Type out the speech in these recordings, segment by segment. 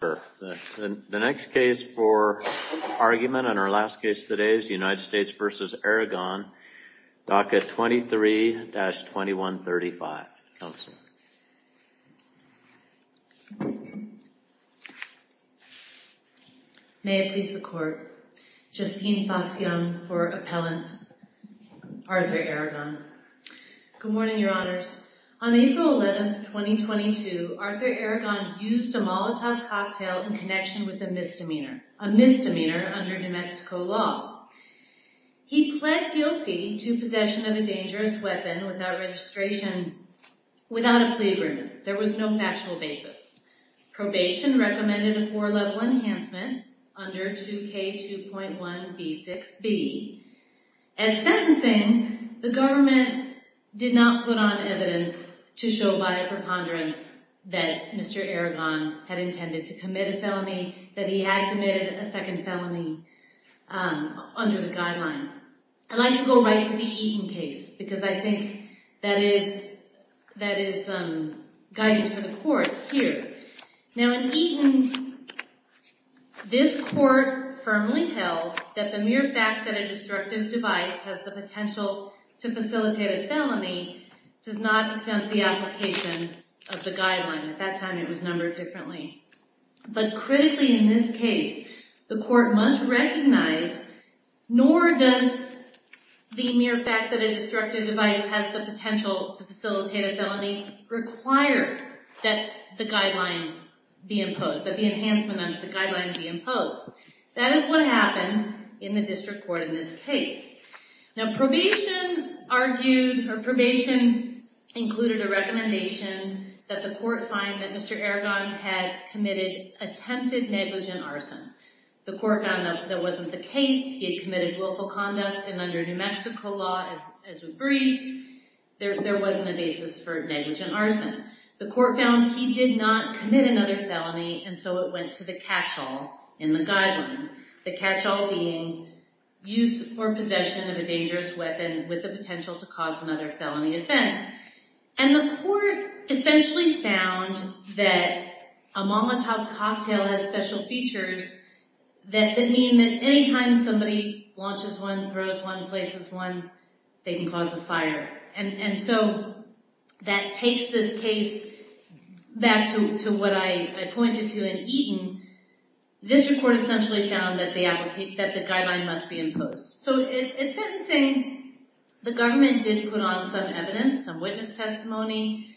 The next case for argument and our last case today is United States v. Aragon, DACA 23-2135. May it please the Court. Justine Fox-Young for Appellant, Arthur Aragon. Good morning, Your Honors. On April 11, 2022, Arthur Aragon used a Molotov cocktail in connection with a misdemeanor, a misdemeanor under New Mexico law. He pled guilty to possession of a dangerous weapon without registration, without a plea agreement. There was no factual basis. Probation recommended a four-level enhancement under 2K2.1b6b. At sentencing, the government did not put on evidence to show by a preponderance that Mr. Aragon had intended to commit a felony, that he had committed a second felony under the guideline. I'd like to go right to the Eaton case because I think that is guidance for the Court here. Now in Eaton, this Court firmly held that the mere fact that a destructive device has the potential to facilitate a felony does not exempt the application of the guideline. At that time, it was numbered differently. But critically in this case, the Court must recognize, nor does the mere fact that a destructive device has the potential to facilitate a felony require that the guideline be imposed, that the enhancement under the guideline be imposed. That is what happened in the District Court in this case. Now probation included a recommendation that the Court find that Mr. Aragon had attempted negligent arson. The Court found that that wasn't the case. He had committed willful conduct. And under New Mexico law, as we briefed, there wasn't a basis for negligent arson. The Court found he did not commit another felony, and so it went to the catch-all in the guideline. The catch-all being use or possession of a dangerous weapon with the potential to cause another felony offense. And the Court essentially found that a Molotov cocktail has special features that mean that any time somebody launches one, throws one, places one, they can cause a fire. And so that takes this case back to what I pointed to in Eaton. The District Court essentially found that the guideline must be imposed. So in sentencing, the government did put on some evidence, some witness testimony.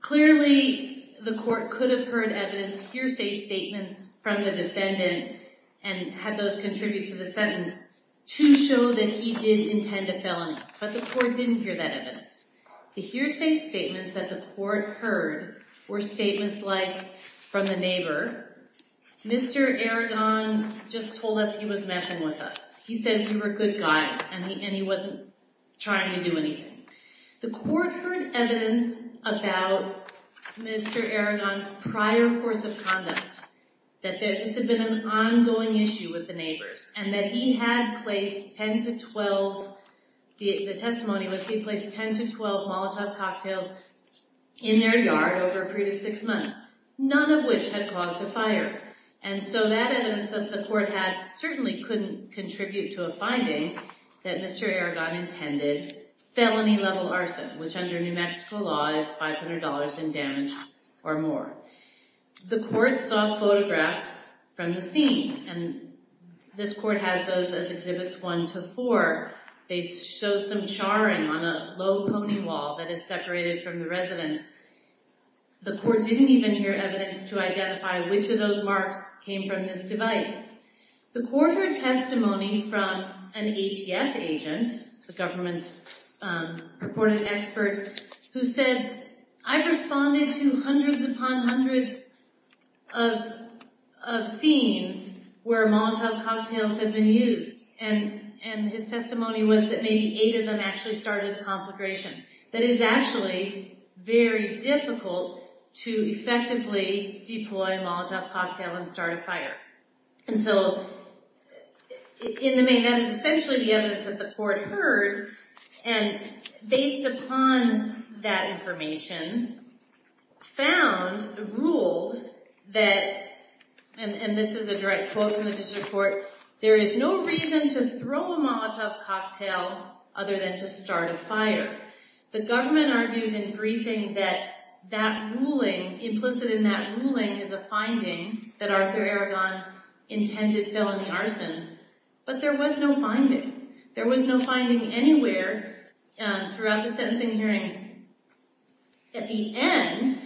Clearly, the Court could have heard evidence, hearsay statements from the defendant, and had those contribute to the sentence to show that he did intend a felony. But the Court didn't hear that evidence. The hearsay statements that the Court heard were statements like, from the neighbor, Mr. Aragon just told us he was messing with us. He said we were good guys, and he wasn't trying to do anything. The Court heard evidence about Mr. Aragon's prior course of conduct, that this had been an ongoing issue with the neighbors, and that he had placed 10 to 12 Molotov cocktails in their yard over a period of six months, none of which had caused a fire. And so that evidence that the Court had certainly couldn't contribute to a finding that Mr. Aragon intended felony-level arson, which under New Mexico law is $500 in damage or more. The Court saw photographs from the scene, and this Court has those as Exhibits 1 to 4. They show some charring on a low pony wall that is separated from the residence. The Court didn't even hear evidence to identify which of those marks came from this device. The Court heard testimony from an ATF agent, the government's purported expert, who said, I've responded to hundreds upon hundreds of scenes where Molotov cocktails have been used. And his testimony was that maybe eight of them actually started the conflagration. That is actually very difficult to effectively deploy a Molotov cocktail and start a fire. And so, in the main, that is essentially the evidence that the Court heard, and based upon that information, found, ruled, that, and this is a direct quote from the District Court, there is no reason to throw a Molotov cocktail other than to start a fire. The government argues in briefing that that ruling, implicit in that ruling, is a finding that Arthur Aragon intended felony arson, but there was no finding. There was no finding anywhere throughout the sentencing hearing. At the end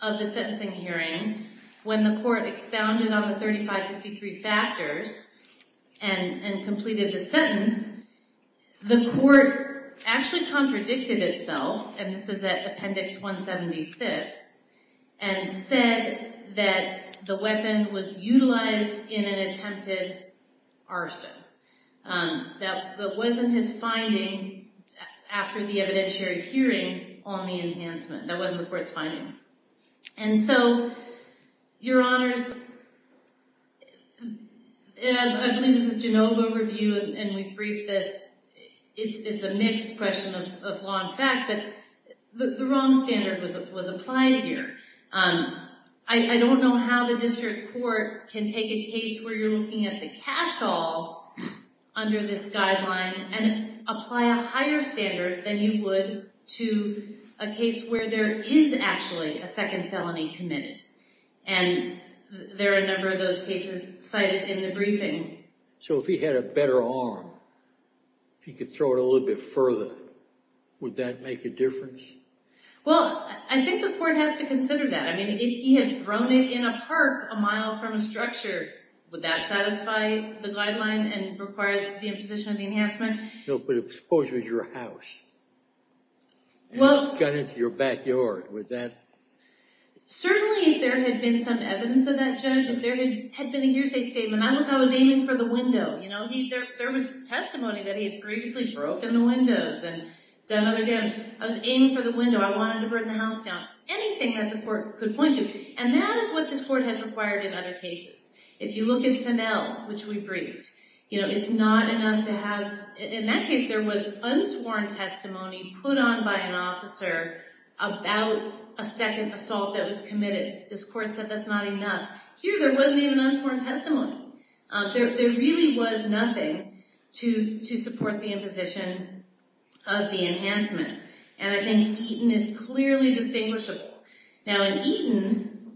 of the sentencing hearing, when the Court expounded on the 3553 factors and completed the sentence, the Court actually contradicted itself, and this is at Appendix 176, and said that the weapon was utilized in an attempted arson. That wasn't his finding after the evidentiary hearing on the enhancement. That wasn't the Court's finding. And so, Your Honors, and I believe this is a Genova review, and we've briefed this, it's a mixed question of law and fact, but the wrong standard was applied here. I don't know how the District Court can take a case where you're looking at the catch-all under this guideline and apply a higher standard than you would to a case where there is actually a second felony committed, and there are a number of those cases cited in the briefing. So if he had a better arm, if he could throw it a little bit further, would that make a difference? Well, I think the Court has to consider that. I mean, if he had thrown it in a park a mile from a structure, would that satisfy the guideline and require the imposition of the enhancement? No, but suppose it was your house, and it got into your backyard, would that... Certainly, if there had been some evidence of that, Judge, if there had been a hearsay statement, not like I was aiming for the window. There was testimony that he had previously broken the windows and done other damage. I was aiming for the window. I wanted to burn the house down. Anything that the Court could point to. And that is what this Court has required in other cases. If you look at Fennell, which we briefed, it's not enough to have... In that case, there was unsworn testimony put on by an officer about a second assault that was committed. This Court said that's not enough. Here, there wasn't even unsworn testimony. There really was nothing to support the imposition of the enhancement. And I think Eaton is clearly distinguishable. Now, in Eaton,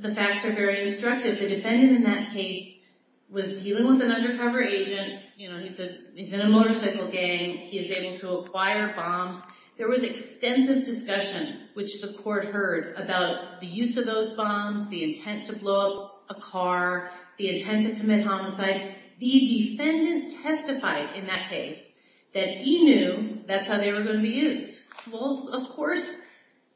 the facts are very instructive. The defendant in that case was dealing with an undercover agent. He's in a motorcycle gang. He is able to acquire bombs. There was extensive discussion, which the Court heard, about the use of those bombs, the intent to blow up a car, the intent to commit homicide. The defendant testified in that case that he knew that's how they were going to be used. Well, of course,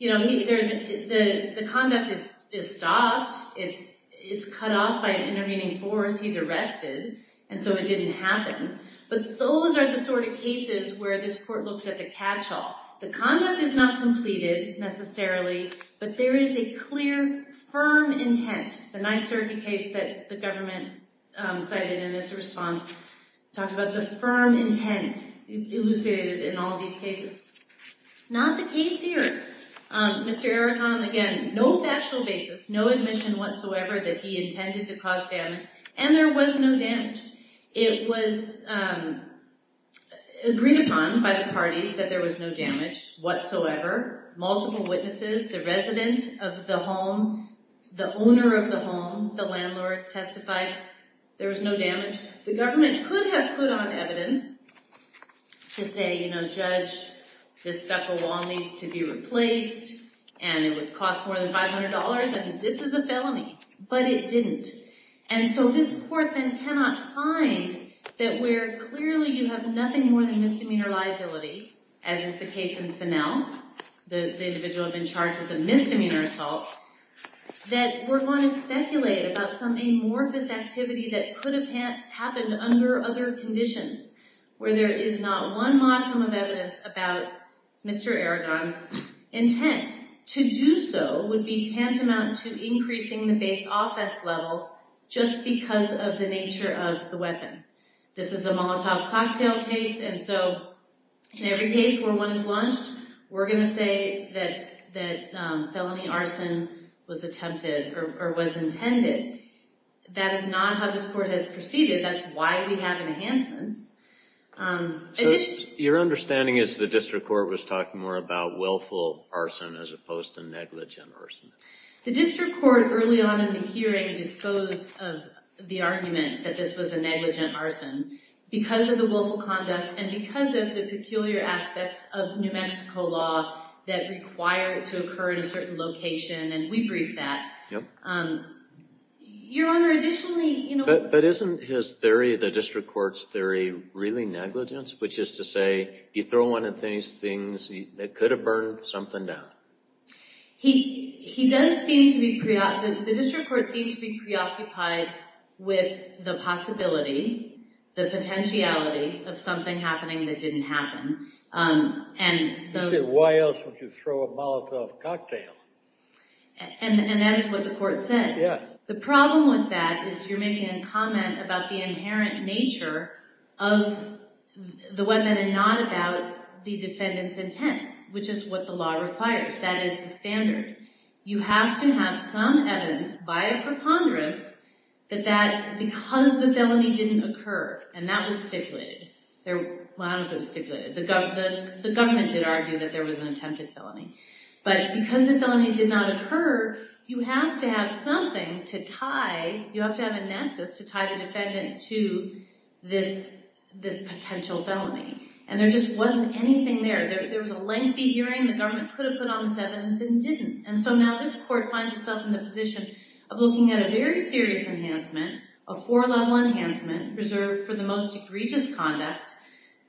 the conduct is stopped. It's cut off by an intervening force. He's arrested, and so it didn't happen. But those are the sort of cases where this Court looks at the catch-all. The conduct is not completed, necessarily, but there is a clear, firm intent. The 9th Circuit case that the government cited in its response talked about the firm intent elucidated in all of these cases. Not the case here. Mr. Erikan, again, no factual basis, no admission whatsoever that he intended to cause damage, and there was no damage. It was agreed upon by the parties that there was no damage whatsoever. Multiple witnesses, the resident of the home, the owner of the home, the landlord testified there was no damage. The government could have put on evidence to say, you know, Judge, this stucco wall needs to be replaced, and it would cost more than $500, and this is a felony. But it didn't. And so this Court then cannot find that where clearly you have nothing more than misdemeanor liability, as is the case in Fennell, the individual being charged with a misdemeanor assault, that we're going to speculate about some amorphous activity that could have happened under other conditions, where there is not one modicum of evidence about Mr. Erikan's intent. The intent to do so would be tantamount to increasing the base offense level just because of the nature of the weapon. This is a Molotov cocktail case, and so in every case where one is launched, we're going to say that felony arson was attempted or was intended. That is not how this Court has proceeded. That's why we have enhancements. So your understanding is the District Court was talking more about willful arson as opposed to negligent arson. The District Court early on in the hearing disposed of the argument that this was a negligent arson because of the willful conduct and because of the peculiar aspects of New Mexico law that require it to occur in a certain location, and we briefed that. Your Honor, additionally, you know— But isn't his theory, the District Court's theory, really negligence? Which is to say, you throw one of these things, it could have burned something down. He does seem to be—the District Court seems to be preoccupied with the possibility, the potentiality of something happening that didn't happen. You said, why else would you throw a Molotov cocktail? And that is what the Court said. The problem with that is you're making a comment about the inherent nature of the weapon and not about the defendant's intent, which is what the law requires. That is the standard. You have to have some evidence, by a preponderance, that because the felony didn't occur, and that was stipulated. Well, I don't know if it was stipulated. The government did argue that there was an attempted felony. But because the felony did not occur, you have to have something to tie—you have to have a nexus to tie the defendant to this potential felony. And there just wasn't anything there. There was a lengthy hearing. The government could have put on this evidence and didn't. And so now this Court finds itself in the position of looking at a very serious enhancement, a four-level enhancement reserved for the most egregious conduct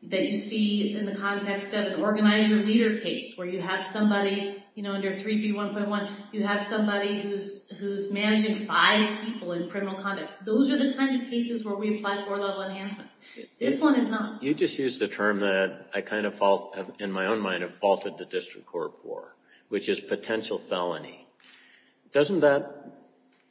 that you see in the context of an organizer-leader case, where you have somebody under 3B1.1. You have somebody who's managing five people in criminal conduct. Those are the kinds of cases where we apply four-level enhancements. This one is not. You just used a term that I kind of, in my own mind, have faulted the District Court for, which is potential felony. Doesn't that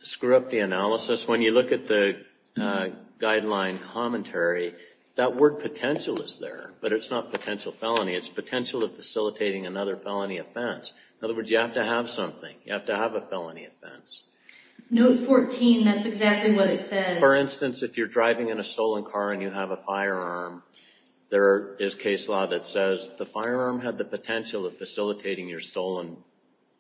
screw up the analysis? When you look at the guideline commentary, that word potential is there, but it's not potential felony. It's potential of facilitating another felony offense. In other words, you have to have something. You have to have a felony offense. Note 14, that's exactly what it says. For instance, if you're driving in a stolen car and you have a firearm, there is case law that says the firearm had the potential of facilitating your stolen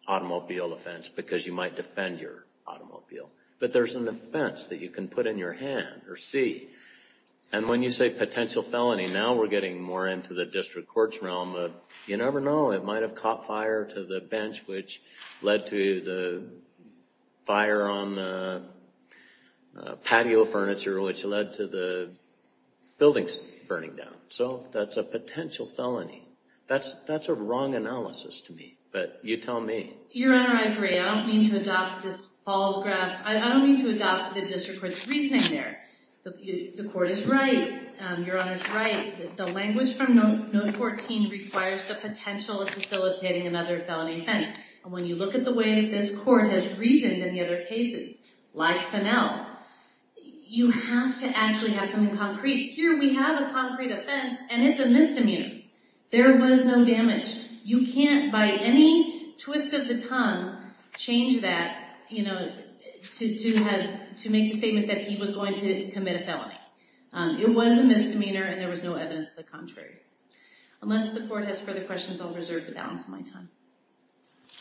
automobile offense because you might defend your automobile. But there's an offense that you can put in your hand or see. And when you say potential felony, now we're getting more into the District Court's realm of, you never know, it might have caught fire to the bench, which led to the fire on the patio furniture, which led to the buildings burning down. So that's a potential felony. That's a wrong analysis to me. But you tell me. Your Honor, I agree. I don't mean to adopt this false grasp. I don't mean to adopt the District Court's reasoning there. The Court is right. Your Honor is right. The language from Note 14 requires the potential of facilitating another felony offense. And when you look at the way this Court has reasoned in the other cases, like Fennell, you have to actually have something concrete. Here we have a concrete offense, and it's a misdemeanor. There was no damage. You can't, by any twist of the tongue, change that to make the statement that he was going to commit a felony. It was a misdemeanor, and there was no evidence of the contrary. Unless the Court has further questions, I'll reserve the balance of my time.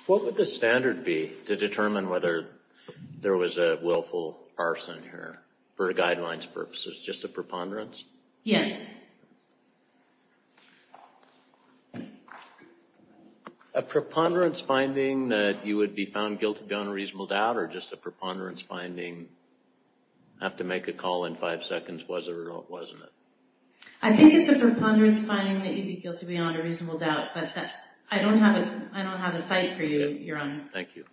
What would the standard be to determine whether there was a willful arson here, for guidelines purposes, just a preponderance? Yes. A preponderance finding that you would be found guilty beyond reasonable doubt, or just a preponderance finding, have to make a call in five seconds, was there or wasn't it? I think it's a preponderance finding that you'd be guilty beyond a reasonable doubt, but I don't have a cite for you, Your Honor. Thank you.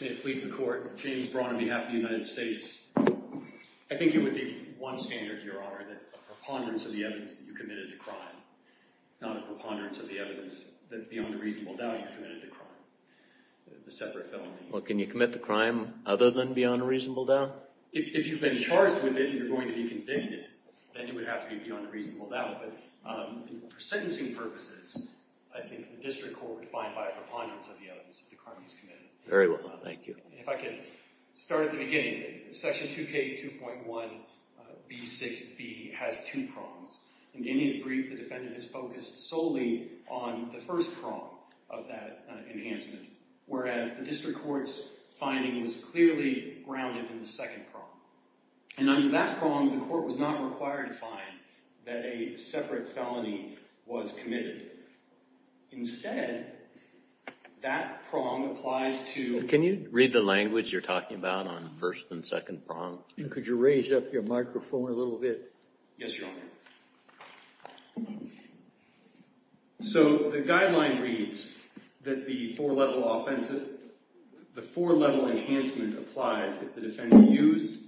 May it please the Court. James Braun on behalf of the United States. I think it would be one standard, Your Honor, that a preponderance of the evidence that you committed the crime, not a preponderance of the evidence that, beyond a reasonable doubt, you committed the crime, the separate felony. Well, can you commit the crime other than beyond a reasonable doubt? If you've been charged with it and you're going to be convicted, then you would have to be beyond a reasonable doubt. But for sentencing purposes, I think the District Court would find, by a preponderance of the evidence, that the crime was committed. Very well. Thank you. If I could start at the beginning. Section 2K2.1B6B has two prongs. In his brief, the defendant has focused solely on the first prong of that enhancement, whereas the District Court's finding was clearly grounded in the second prong. And under that prong, the Court was not required to find that a separate felony was committed. Instead, that prong applies to— Can you read the language you're talking about on the first and second prong? Could you raise up your microphone a little bit? Yes, Your Honor. So the guideline reads that the four-level enhancement applies if the defendant used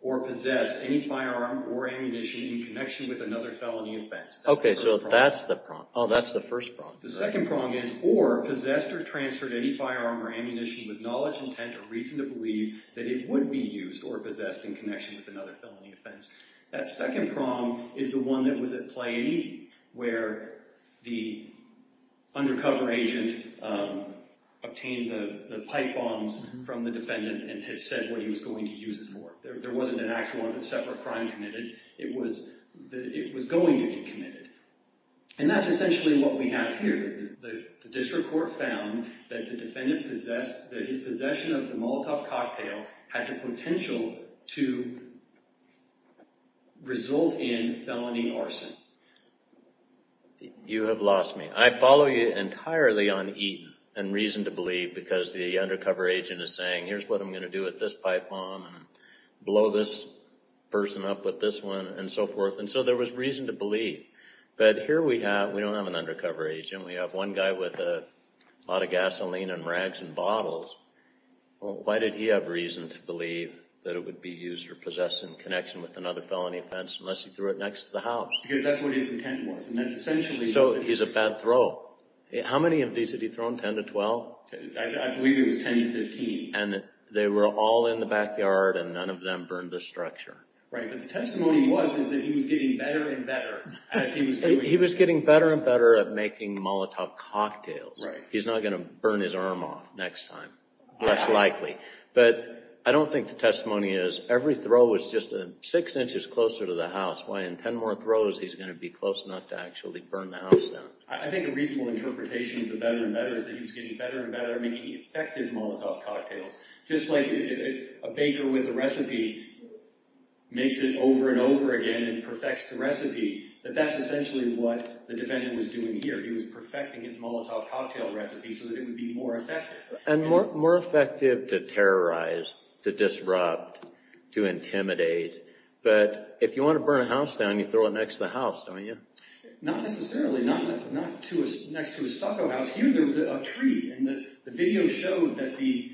or possessed any firearm or ammunition in connection with another felony offense. Okay, so that's the prong. Oh, that's the first prong. The second prong is, or possessed or transferred any firearm or ammunition with knowledge, intent, or reason to believe that it would be used or possessed in connection with another felony offense. That second prong is the one that was at play where the undercover agent obtained the pipe bombs from the defendant and had said what he was going to use it for. There wasn't an actual separate crime committed. It was going to be committed. And that's essentially what we have here. The District Court found that the defendant possessed—that his possession of the Molotov cocktail had the potential to result in felony arson. You have lost me. I follow you entirely on Eaton and reason to believe because the undercover agent is saying, here's what I'm going to do with this pipe bomb and blow this person up with this one and so forth. And so there was reason to believe. But here we have—we don't have an undercover agent. We have one guy with a lot of gasoline and rags and bottles. Why did he have reason to believe that it would be used or possessed in connection with another felony offense unless he threw it next to the house? Because that's what his intent was. So he's a bad throw. How many of these had he thrown, 10 to 12? I believe it was 10 to 15. And they were all in the backyard and none of them burned the structure. Right, but the testimony was that he was getting better and better as he was doing— He was getting better and better at making Molotov cocktails. Right. He's not going to burn his arm off next time, less likely. But I don't think the testimony is every throw was just six inches closer to the house. Why in 10 more throws he's going to be close enough to actually burn the house down. I think a reasonable interpretation of the better and better is that he was getting better and better at making effective Molotov cocktails. Just like a baker with a recipe makes it over and over again and perfects the recipe, that that's essentially what the defendant was doing here. He was perfecting his Molotov cocktail recipe so that it would be more effective. And more effective to terrorize, to disrupt, to intimidate. But if you want to burn a house down, you throw it next to the house, don't you? Not necessarily. Not next to a stucco house. Here there was a tree and the video showed that the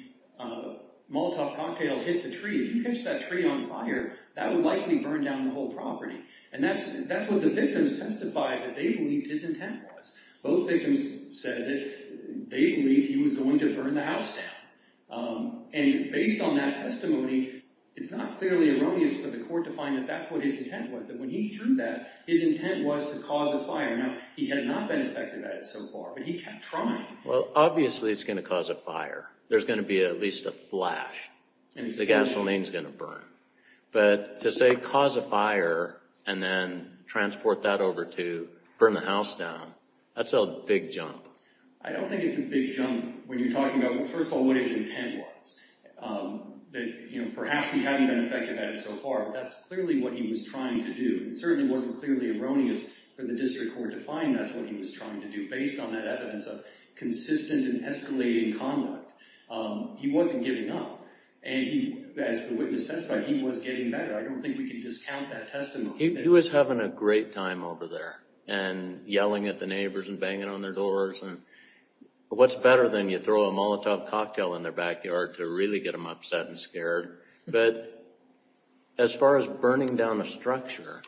Molotov cocktail hit the tree. If you catch that tree on fire, that would likely burn down the whole property. And that's what the victims testified that they believed his intent was. Both victims said that they believed he was going to burn the house down. And based on that testimony, it's not clearly erroneous for the court to find that that's what his intent was. That when he threw that, his intent was to cause a fire. Now, he had not been effective at it so far, but he kept trying. Well, obviously it's going to cause a fire. There's going to be at least a flash. The gasoline's going to burn. But to say cause a fire and then transport that over to burn the house down, that's a big jump. I don't think it's a big jump when you're talking about, first of all, what his intent was. Perhaps he hadn't been effective at it so far, but that's clearly what he was trying to do. It certainly wasn't clearly erroneous for the district court to find that's what he was trying to do. Based on that evidence of consistent and escalating conduct, he wasn't giving up. And as the witness testified, he was getting better. I don't think we can discount that testimony. He was having a great time over there and yelling at the neighbors and banging on their doors. What's better than you throw a Molotov cocktail in their backyard to really get them upset and scared? But as far as burning down a structure,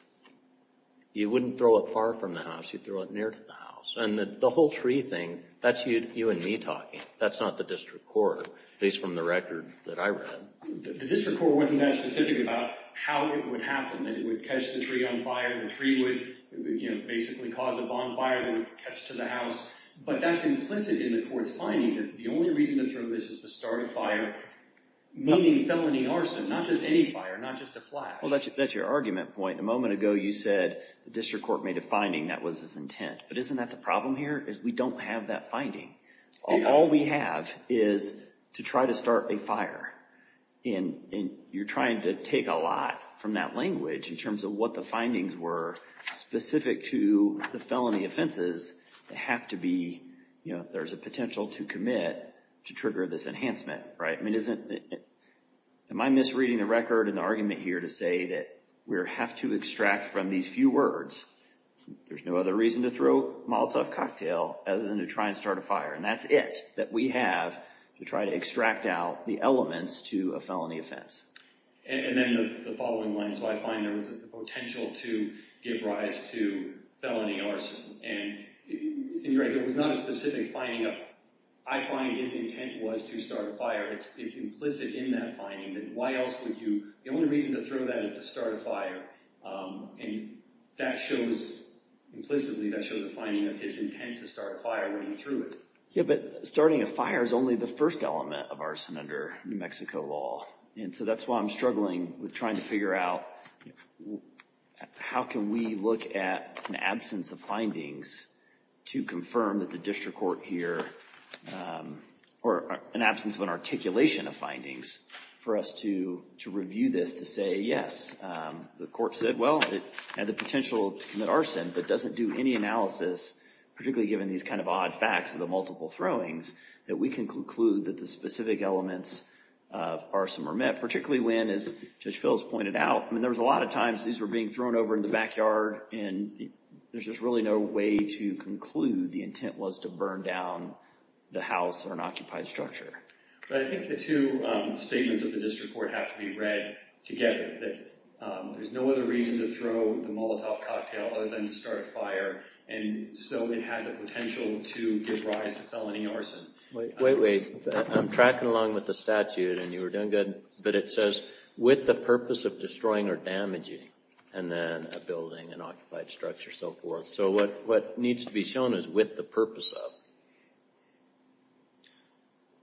you wouldn't throw it far from the house. You'd throw it near to the house. And the whole tree thing, that's you and me talking. That's not the district court, at least from the record that I read. The district court wasn't that specific about how it would happen, that it would catch the tree on fire. The tree would basically cause a bonfire that would catch to the house. But that's implicit in the court's finding that the only reason to throw this is to start a fire, meaning felony arson, not just any fire, not just a flash. Well, that's your argument point. A moment ago, you said the district court made a finding that was its intent. But isn't that the problem here is we don't have that finding. All we have is to try to start a fire. And you're trying to take a lot from that language in terms of what the findings were specific to the felony offenses. There's a potential to commit to trigger this enhancement. Am I misreading the record in the argument here to say that we have to extract from these few words, there's no other reason to throw a Molotov cocktail other than to try and start a fire. And that's it that we have to try to extract out the elements to a felony offense. And then the following line, so I find there was a potential to give rise to felony arson. And you're right, there was not a specific finding. I find his intent was to start a fire. It's implicit in that finding that why else would you, the only reason to throw that is to start a fire. And that shows implicitly, that shows the finding of his intent to start a fire when he threw it. Yeah, but starting a fire is only the first element of arson under New Mexico law. And so that's why I'm struggling with trying to figure out how can we look at an absence of findings to confirm that the district court here, or an absence of an articulation of findings, for us to review this to say, yes, the court said, well, it had the potential to commit arson, but doesn't do any analysis, particularly given these kind of odd facts of the multiple throwings, that we can conclude that the specific elements of arson were met, particularly when, as Judge Phil has pointed out, there was a lot of times these were being thrown over in the backyard, and there's just really no way to conclude the intent was to burn down the house or an occupied structure. But I think the two statements of the district court have to be read together, that there's no other reason to throw the Molotov cocktail other than to start a fire, and so it had the potential to give rise to felony arson. Wait, wait. I'm tracking along with the statute, and you were doing good, but it says, with the purpose of destroying or damaging a building, an occupied structure, so forth. So what needs to be shown is with the purpose of.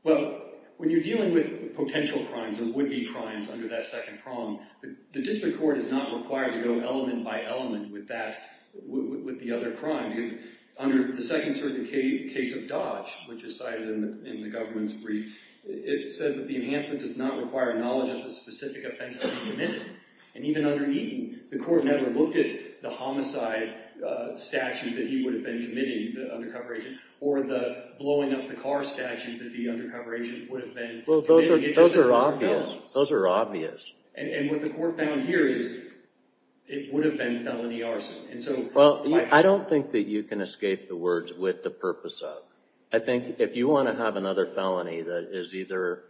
Well, when you're dealing with potential crimes or would-be crimes under that second prong, the district court is not required to go element by element with the other crime. Under the second case of Dodge, which is cited in the government's brief, it says that the enhancement does not require knowledge of the specific offense that he committed. And even under Eaton, the court never looked at the homicide statute that he would have been committing, the undercover agent, or the blowing up the car statute that the undercover agent would have been committing. Those are obvious. Those are obvious. And what the court found here is it would have been felony arson. Well, I don't think that you can escape the words with the purpose of. I think if you want to have another felony that is either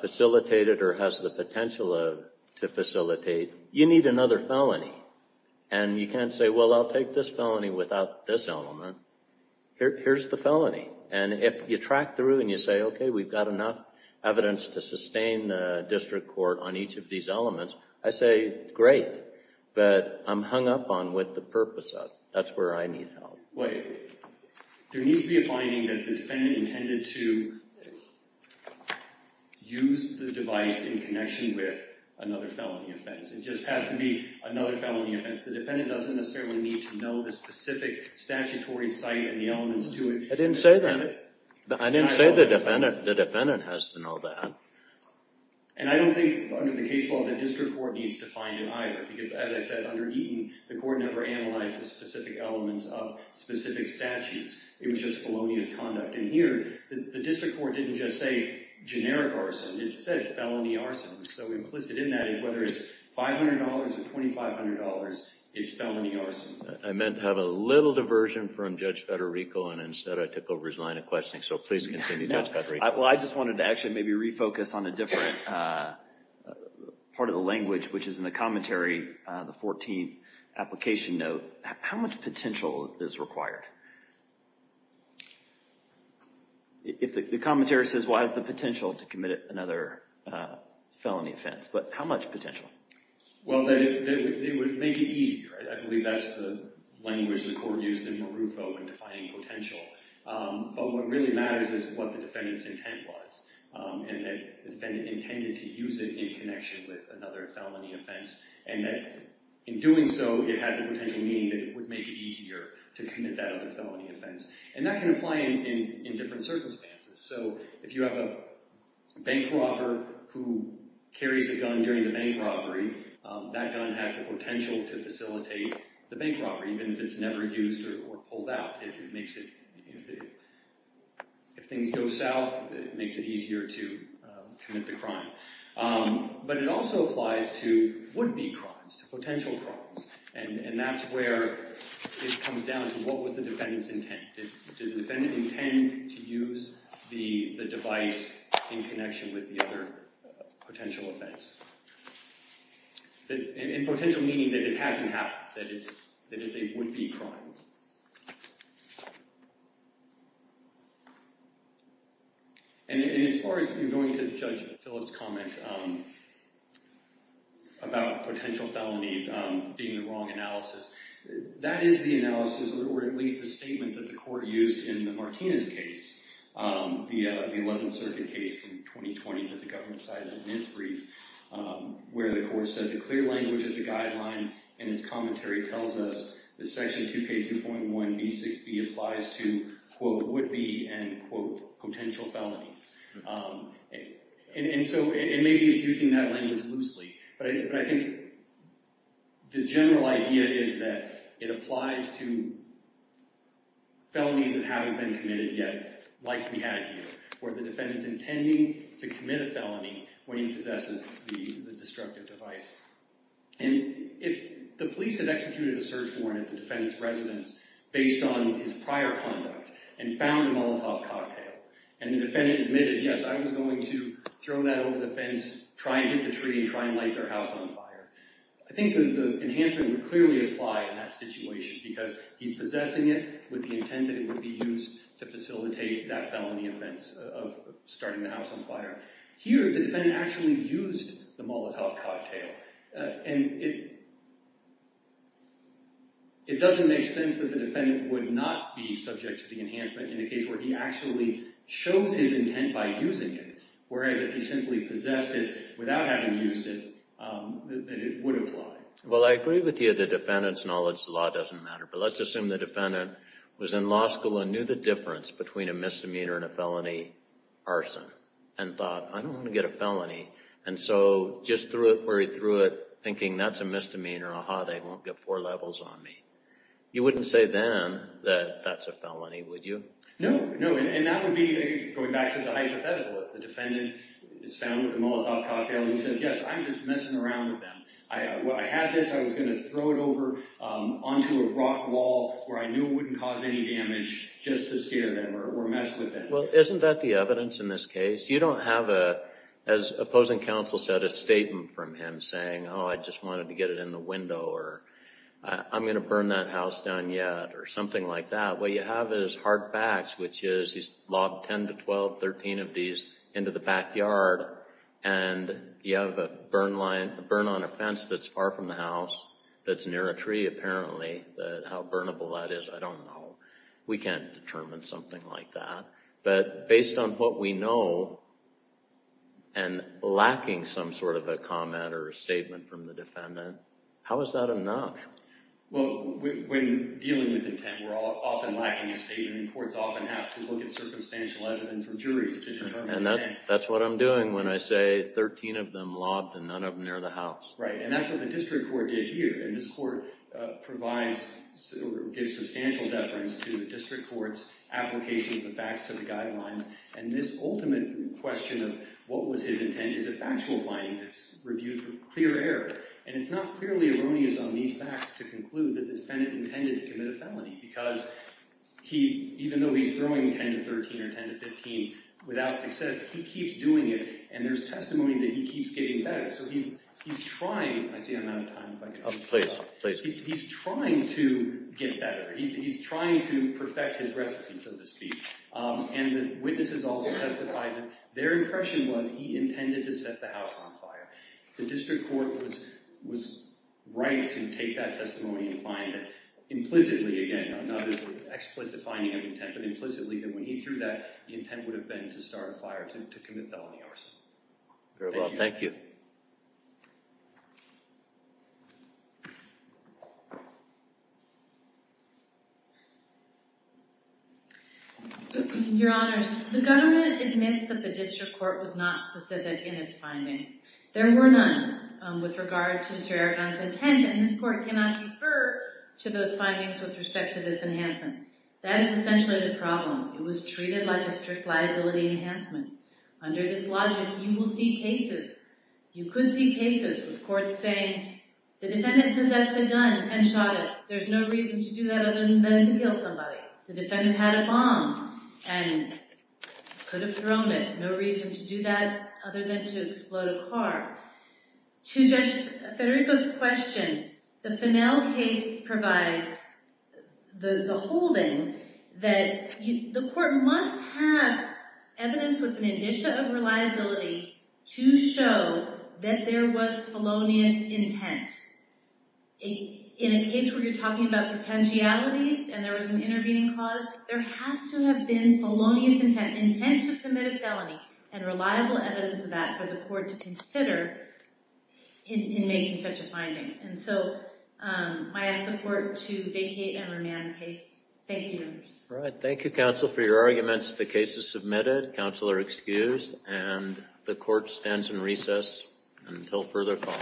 facilitated or has the potential to facilitate, you need another felony. And you can't say, well, I'll take this felony without this element. Here's the felony. And if you track through and you say, okay, we've got enough evidence to sustain the district court on each of these elements, I say, great, but I'm hung up on what the purpose of. That's where I need help. Wait. There needs to be a finding that the defendant intended to use the device in connection with another felony offense. It just has to be another felony offense. The defendant doesn't necessarily need to know the specific statutory site and the elements to it. I didn't say that. I didn't say the defendant has to know that. And I don't think under the case law the district court needs to find it either. Because as I said, under Eaton, the court never analyzed the specific elements of specific statutes. It was just felonious conduct. And here, the district court didn't just say generic arson. It said felony arson. So implicit in that is whether it's $500 or $2,500, it's felony arson. I meant to have a little diversion from Judge Federico, and instead I took over his line of questioning. So please continue, Judge Federico. Well, I just wanted to actually maybe refocus on a different part of the language, which is in the commentary, the 14th application note. How much potential is required? The commentary says, well, it has the potential to commit another felony offense. But how much potential? Well, they would make it easier. I believe that's the language the court used in Marufo in defining potential. But what really matters is what the defendant's intent was. And that the defendant intended to use it in connection with another felony offense. And that in doing so, it had the potential meaning that it would make it easier to commit that other felony offense. And that can apply in different circumstances. So if you have a bank robber who carries a gun during the bank robbery, that gun has the potential to facilitate the bank robbery, even if it's never used or pulled out. If things go south, it makes it easier to commit the crime. But it also applies to would-be crimes, to potential crimes. And that's where it comes down to what was the defendant's intent. Did the defendant intend to use the device in connection with the other potential offense? And potential meaning that it hasn't happened, that it's a would-be crime. And as far as you're going to judge Philip's comment about potential felony being the wrong analysis, that is the analysis, or at least the statement that the court used in the Martinez case, the 11th Circuit case from 2020 that the government cited in its brief, where the court said the clear language of the guideline in its commentary tells us that Section 2K2.1B6B applies to, quote, would-be and, quote, potential felonies. And so it maybe is using that language loosely. But I think the general idea is that it applies to felonies that haven't been committed yet, like we had here, where the defendant's intending to commit a felony when he possesses the destructive device. And if the police had executed a search warrant at the defendant's residence based on his prior conduct and found a Molotov cocktail, and the defendant admitted, yes, I was going to throw that over the fence, try and get the tree and try and light their house on fire, I think that the enhancement would clearly apply in that situation because he's possessing it with the intent that it would be used to facilitate that felony offense of starting the house on fire. Here, the defendant actually used the Molotov cocktail. And it doesn't make sense that the defendant would not be subject to the enhancement in a case where he actually chose his intent by using it, whereas if he simply possessed it without having used it, that it would apply. Well, I agree with you that the defendant's knowledge of the law doesn't matter. But let's assume the defendant was in law school and knew the difference between a misdemeanor and a felony arson and thought, I don't want to get a felony, and so just threw it where he threw it, thinking that's a misdemeanor, aha, they won't get four levels on me. You wouldn't say then that that's a felony, would you? No, and that would be, going back to the hypothetical, if the defendant is found with a Molotov cocktail and says, yes, I'm just messing around with them. I had this, I was going to throw it over onto a rock wall where I knew it wouldn't cause any damage just to scare them or mess with them. Well, isn't that the evidence in this case? You don't have, as opposing counsel said, a statement from him saying, oh, I just wanted to get it in the window or I'm going to burn that house down yet or something like that. What you have is hard facts, which is he's logged 10 to 12, 13 of these into the backyard, and you have a burn on a fence that's far from the house that's near a tree, apparently. How burnable that is, I don't know. We can't determine something like that. But based on what we know and lacking some sort of a comment or a statement from the defendant, how is that enough? Well, when dealing with intent, we're often lacking a statement. Courts often have to look at circumstantial evidence or juries to determine intent. And that's what I'm doing when I say 13 of them logged and none of them near the house. Right, and that's what the district court did here. And this court provides or gives substantial deference to the district court's application of the facts to the guidelines, and this ultimate question of what was his intent is a factual finding that's reviewed for clear error. And it's not clearly erroneous on these facts to conclude that the defendant intended to commit a felony because even though he's throwing 10 to 13 or 10 to 15 without success, he keeps doing it, and there's testimony that he keeps getting better. So he's trying. I see I'm out of time. Please, please. He's trying to get better. He's trying to perfect his recipe, so to speak. The district court was right to take that testimony and find that implicitly, again, not as an explicit finding of intent, but implicitly that when he threw that, the intent would have been to start a fire, to commit felony arson. Very well. Thank you. Your Honors, the government admits that the district court was not specific in its findings. There were none with regard to Sir Eragon's intent, and this court cannot defer to those findings with respect to this enhancement. That is essentially the problem. It was treated like a strict liability enhancement. Under this logic, you will see cases, you could see cases, with courts saying the defendant possessed a gun and shot it. There's no reason to do that other than to kill somebody. The defendant had a bomb and could have thrown it. No reason to do that other than to explode a car. To Judge Federico's question, the Fennell case provides the holding that the court must have evidence with an addition of reliability to show that there was felonious intent. In a case where you're talking about potentialities and there was an intervening cause, there has to have been felonious intent, intent to commit a felony, and reliable evidence of that for the court to consider in making such a finding. And so, I ask the court to vacate and remand the case. Thank you, Your Honors. Thank you, counsel, for your arguments. The case is submitted. Counsel are excused, and the court stands in recess until further call.